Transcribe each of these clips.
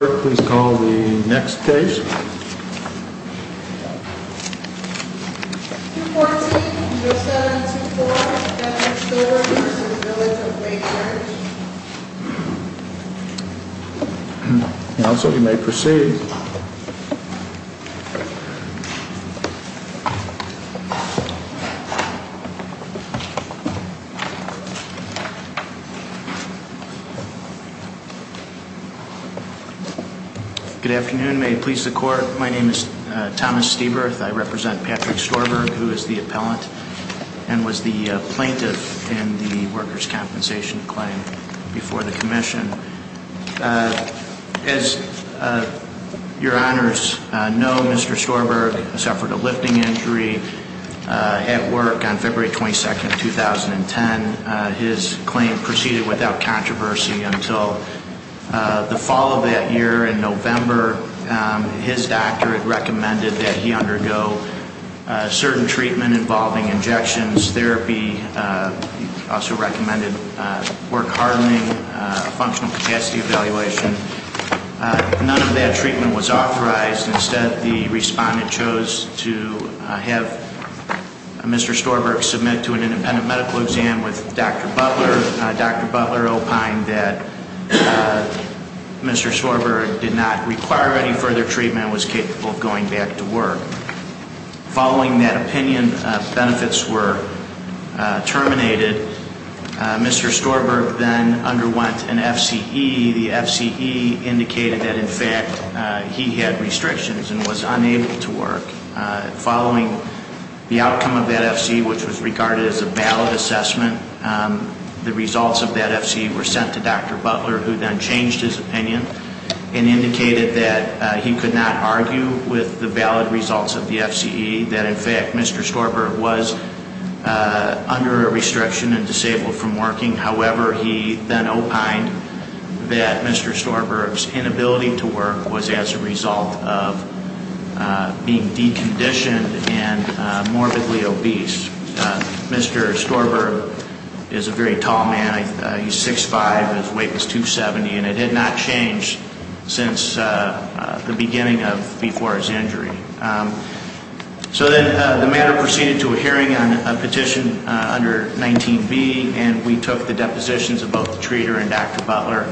Clerk, please call the next case. 214-0724, Benjamin Storberg v. Village of Wagers Counsel, you may proceed. Good afternoon. May it please the Court, my name is Thomas Steberth. I represent Patrick Storberg, who is the appellant and was the plaintiff in the Workers' Compensation claim before the Commission. As your Honors know, Mr. Storberg suffered a lifting injury at work on February 22, 2010. His claim proceeded without controversy until the fall of that year in November. His doctor had recommended that he undergo certain treatment involving injections, therapy, also recommended work hardening, functional capacity evaluation. None of that treatment was authorized. Instead, the respondent chose to have Mr. Storberg submit to an independent medical exam with Dr. Butler. Dr. Butler opined that Mr. Storberg did not require any further treatment and was capable of going back to work. Following that opinion, benefits were terminated. Mr. Storberg then underwent an FCE. The FCE indicated that, in fact, he had restrictions and was unable to work. Following the outcome of that FCE, which was regarded as a valid assessment, the results of that FCE were sent to Dr. Butler, who then changed his opinion and indicated that he could not argue with the valid results of the FCE, that, in fact, Mr. Storberg was under a restriction and disabled from working. However, he then opined that Mr. Storberg's inability to work was as a result of being deconditioned and morbidly obese. Mr. Storberg is a very tall man. He's 6'5", his weight was 270, and it had not changed since the beginning of before his injury. So then the matter proceeded to a hearing on a petition under 19B, and we took the depositions of both the treater and Dr. Butler.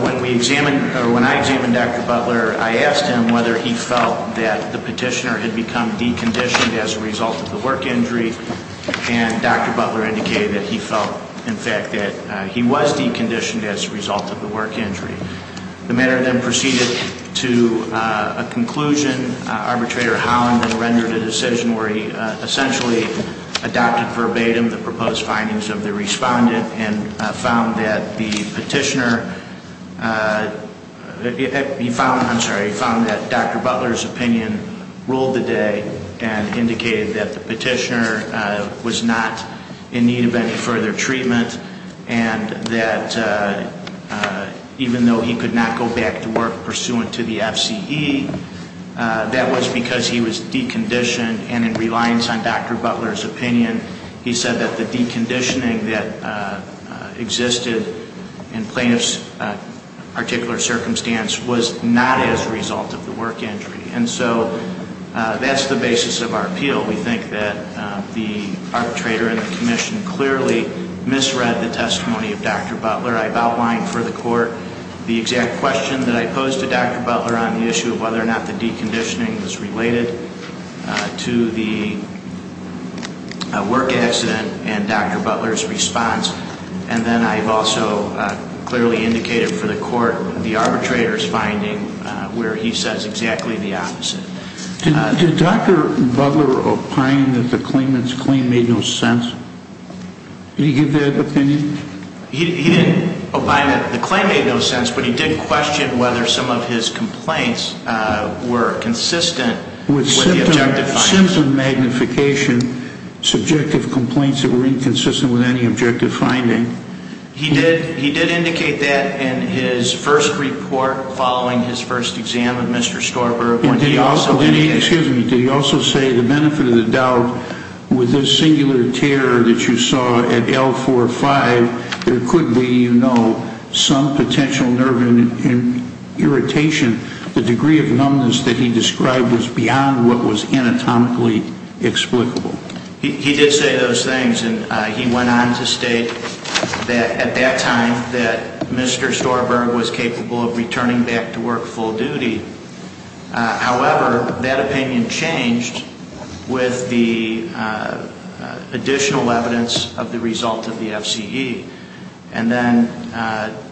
When I examined Dr. Butler, I asked him whether he felt that the petitioner had become deconditioned as a result of the work injury, and Dr. Butler indicated that he felt, in fact, that he was deconditioned as a result of the work injury. The matter then proceeded to a conclusion. Arbitrator Holland then rendered a decision where he essentially adopted verbatim the proposed findings of the respondent and found that Dr. Butler's opinion ruled the day and indicated that the petitioner was not in need of any further treatment and that even though he could not go back to work pursuant to the FCE, that was because he was deconditioned and in reliance on Dr. Butler's opinion, he said that the deconditioning that existed in plaintiff's particular circumstance was not as a result of the work injury. And so that's the basis of our appeal. We think that the arbitrator and the commission clearly misread the testimony of Dr. Butler. I've outlined for the court the exact question that I posed to Dr. Butler on the issue of whether or not the deconditioning was related to the work accident and Dr. Butler's response. And then I've also clearly indicated for the court the arbitrator's finding where he says exactly the opposite. Did Dr. Butler opine that the claimant's claim made no sense? Did he give that opinion? He didn't opine that the claim made no sense, but he did question whether some of his complaints were consistent with the objective findings. Was there a sense of magnification, subjective complaints that were inconsistent with any objective finding? He did indicate that in his first report following his first exam with Mr. Storber. Did he also say the benefit of the doubt with this singular tear that you saw at L4-5, there could be, you know, some potential nerve irritation. The degree of numbness that he described was beyond what was anatomically explicable. He did say those things, and he went on to state that at that time that Mr. Storber was capable of returning back to work full duty. However, that opinion changed with the additional evidence of the result of the FCE. And then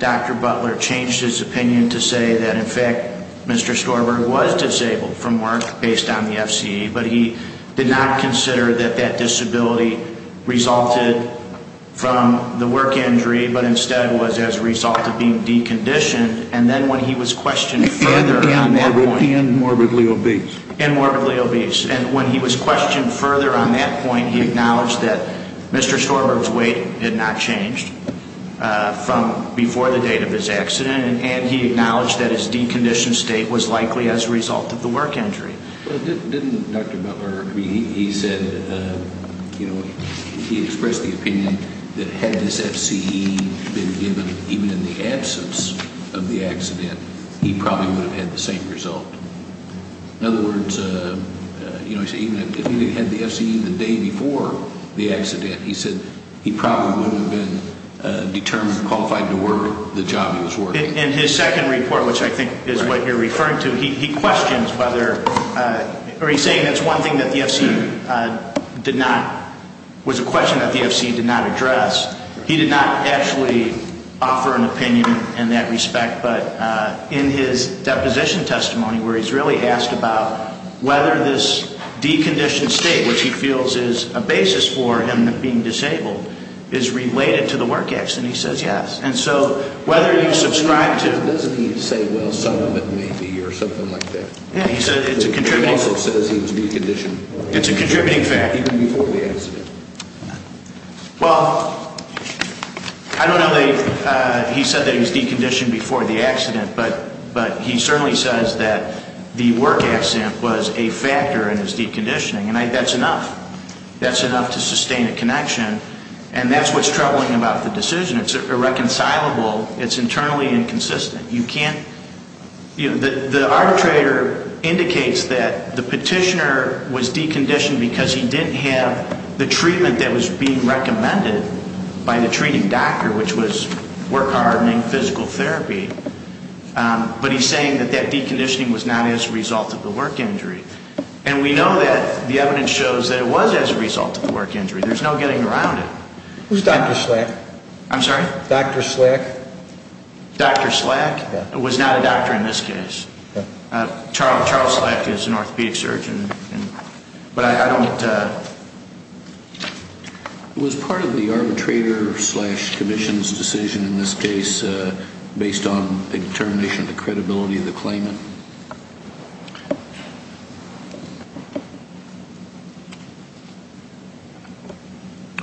Dr. Butler changed his opinion to say that, in fact, Mr. Storber was disabled from work based on the FCE, but he did not consider that that disability resulted from the work injury, but instead was as a result of being deconditioned. And then when he was questioned further on that point. And morbidly obese. And morbidly obese. And when he was questioned further on that point, he acknowledged that Mr. Storber's weight had not changed from before the date of his accident, and he acknowledged that his deconditioned state was likely as a result of the work injury. Didn't Dr. Butler, I mean, he said, you know, he expressed the opinion that had this FCE been given even in the absence of the accident, he probably would have had the same result. In other words, you know, he said even if he had the FCE the day before the accident, he said he probably would have been determined, qualified to work the job he was working. In his second report, which I think is what you're referring to, he questions whether, or he's saying that's one thing that the FCE did not, was a question that the FCE did not address. He did not actually offer an opinion in that respect. But in his deposition testimony where he's really asked about whether this deconditioned state, which he feels is a basis for him being disabled, is related to the work accident, he says yes. And so whether you subscribe to the – Doesn't he say, well, some of it may be or something like that? Yeah, he said it's a contributing – He also says he was deconditioned – It's a contributing fact. Even before the accident. Well, I don't know that he said that he was deconditioned before the accident, but he certainly says that the work accident was a factor in his deconditioning, and that's enough. That's enough to sustain a connection. And that's what's troubling about the decision. It's irreconcilable. It's internally inconsistent. You can't – The arbitrator indicates that the petitioner was deconditioned because he didn't have the treatment that was being recommended by the treating doctor, which was work hardening, physical therapy. But he's saying that that deconditioning was not as a result of the work injury. And we know that. The evidence shows that it was as a result of the work injury. There's no getting around it. Who's Dr. Slack? I'm sorry? Dr. Slack? Dr. Slack? Was not a doctor in this case. Charles Slack is an orthopedic surgeon. But I don't – Was part of the arbitrator's slash commission's decision in this case based on the determination of the credibility of the claimant?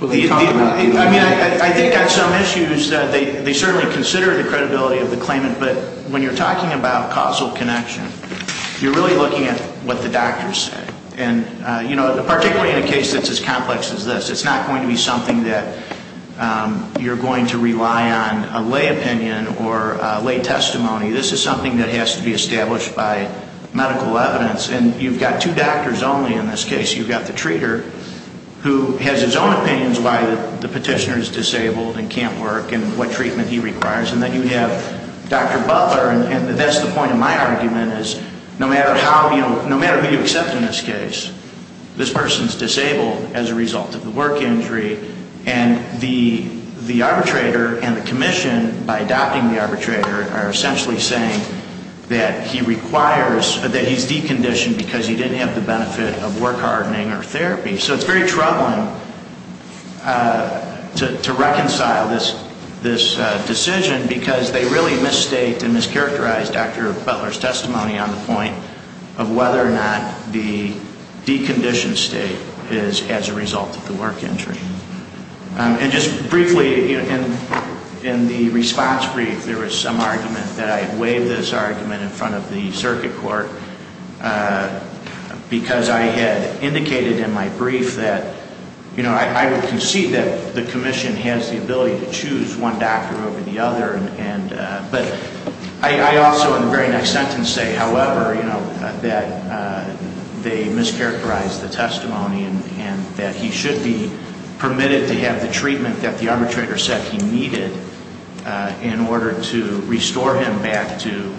I mean, I think on some issues they certainly consider the credibility of the claimant, but when you're talking about causal connection, you're really looking at what the doctors say. And, you know, particularly in a case that's as complex as this, it's not going to be something that you're going to rely on a lay opinion or lay testimony. This is something that has to be established by medical evidence. And you've got two doctors only in this case. You've got the treater, who has his own opinions why the petitioner is disabled and can't work and what treatment he requires. And then you have Dr. Butler, and that's the point of my argument, is no matter who you accept in this case, this person is disabled as a result of the work injury. And the arbitrator and the commission, by adopting the arbitrator, are essentially saying that he's deconditioned because he didn't have the benefit of work hardening or therapy. So it's very troubling to reconcile this decision because they really misstate and mischaracterize Dr. Butler's testimony on the point of whether or not the deconditioned state is as a result of the work injury. And just briefly, in the response brief, there was some argument that I had waived this argument in front of the circuit court because I had indicated in my brief that I would concede that the commission has the ability to choose one doctor over the other. But I also in the very next sentence say, however, that they mischaracterized the testimony and that he should be permitted to have the treatment that the arbitrator said he needed in order to restore him back to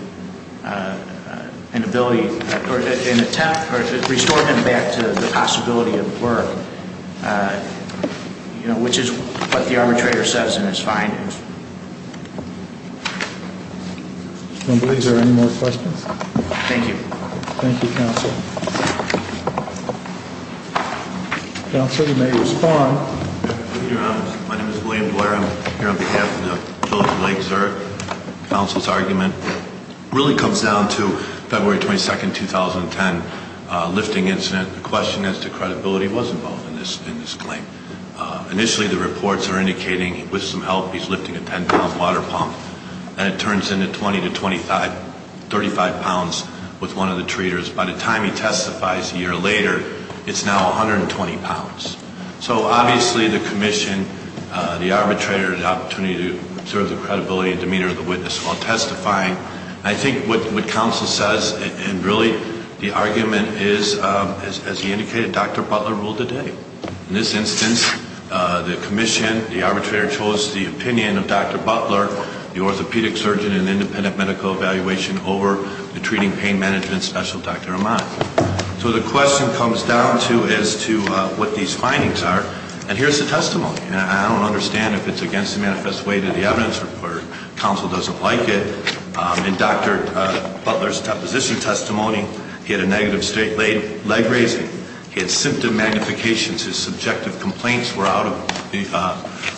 the possibility of work, which is what the arbitrator says in his findings. I don't believe there are any more questions. Thank you. Thank you, Counsel. Counsel, you may respond. My name is William Blair. I'm here on behalf of the Village of Lake Zurich. Counsel's argument really comes down to February 22, 2010, lifting incident. The question as to credibility was involved in this claim. Initially, the reports are indicating with some help he's lifting a 10-pound water pump, and it turns into 20 to 35 pounds with one of the treaters. By the time he testifies a year later, it's now 120 pounds. So obviously the commission, the arbitrator, has the opportunity to observe the credibility and demeanor of the witness while testifying. I think what Counsel says and really the argument is, as he indicated, Dr. Butler ruled the day. In this instance, the commission, the arbitrator, chose the opinion of Dr. Butler, the orthopedic surgeon in an independent medical evaluation, over the treating pain management specialist, Dr. Ahmad. So the question comes down to as to what these findings are, and here's the testimony. And I don't understand if it's against the manifest way to the evidence or Counsel doesn't like it. In Dr. Butler's deposition testimony, he had a negative state leg raising. He had symptom magnifications. His subjective complaints were out of the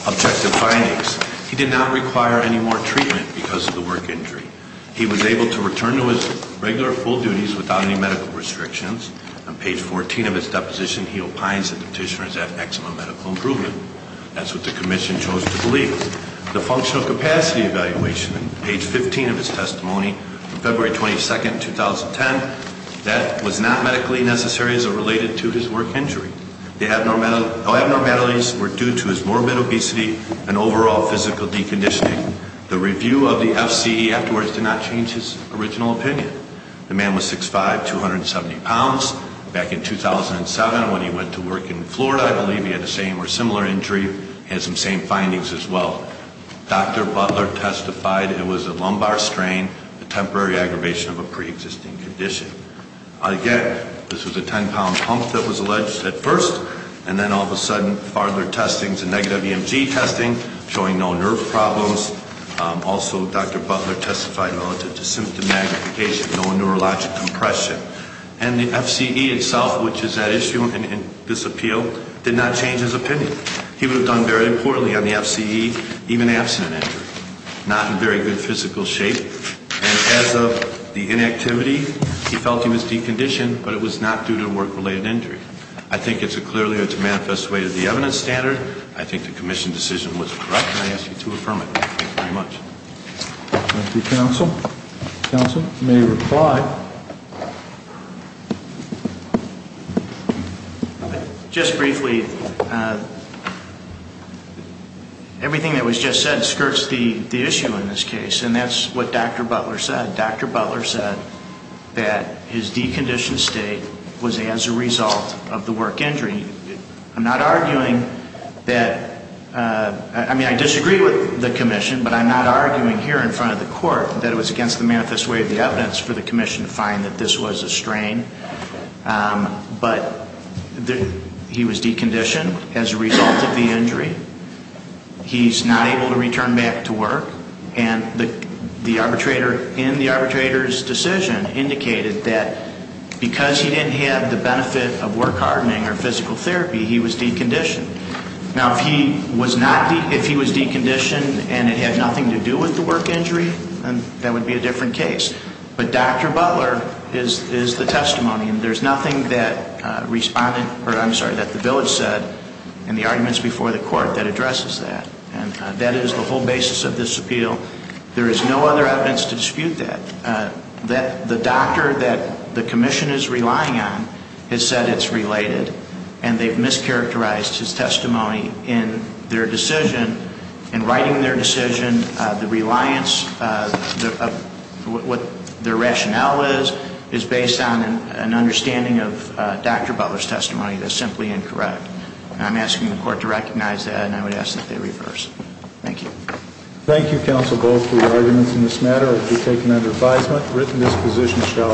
objective findings. He did not require any more treatment because of the work injury. He was able to return to his regular full duties without any medical restrictions. On page 14 of his deposition, he opines that the petitioner has had maximum medical improvement. That's what the commission chose to believe. The functional capacity evaluation, page 15 of his testimony, February 22, 2010, that was not medically necessary as it related to his work injury. The abnormalities were due to his morbid obesity and overall physical deconditioning. The review of the FCE afterwards did not change his original opinion. The man was 6'5", 270 pounds. Back in 2007 when he went to work in Florida, I believe he had a same or similar injury. He had some same findings as well. Dr. Butler testified it was a lumbar strain, a temporary aggravation of a preexisting condition. Again, this was a 10-pound pump that was alleged at first, and then all of a sudden, further testings and negative EMG testing showing no nerve problems. Also, Dr. Butler testified relative to symptom magnification, no neurologic compression. And the FCE itself, which is at issue in this appeal, did not change his opinion. He would have done very poorly on the FCE, even abstinent, not in very good physical shape. And as of the inactivity, he felt he was deconditioned, but it was not due to a work-related injury. I think it's a clearly or it's a manifest way to the evidence standard. I think the commission decision was correct, and I ask you to affirm it. Thank you very much. Thank you, counsel. Counsel may reply. Just briefly, everything that was just said skirts the issue in this case, and that's what Dr. Butler said. That his deconditioned state was as a result of the work injury. I'm not arguing that, I mean, I disagree with the commission, but I'm not arguing here in front of the court that it was against the manifest way of the evidence for the commission to find that this was a strain. But he was deconditioned as a result of the injury. He's not able to return back to work. And the arbitrator in the arbitrator's decision indicated that because he didn't have the benefit of work hardening or physical therapy, he was deconditioned. Now, if he was deconditioned and it had nothing to do with the work injury, then that would be a different case. But Dr. Butler is the testimony, and there's nothing that the village said in the arguments before the court that addresses that. And that is the whole basis of this appeal. There is no other evidence to dispute that. The doctor that the commission is relying on has said it's related, and they've mischaracterized his testimony in their decision. In writing their decision, the reliance of what their rationale is, is based on an understanding of Dr. Butler's testimony that's simply incorrect. And I'm asking the court to recognize that, and I would ask that they reverse it. Thank you. Thank you, Counsel Bowles, for your arguments in this matter. I do take them under advisement. Written disposition shall...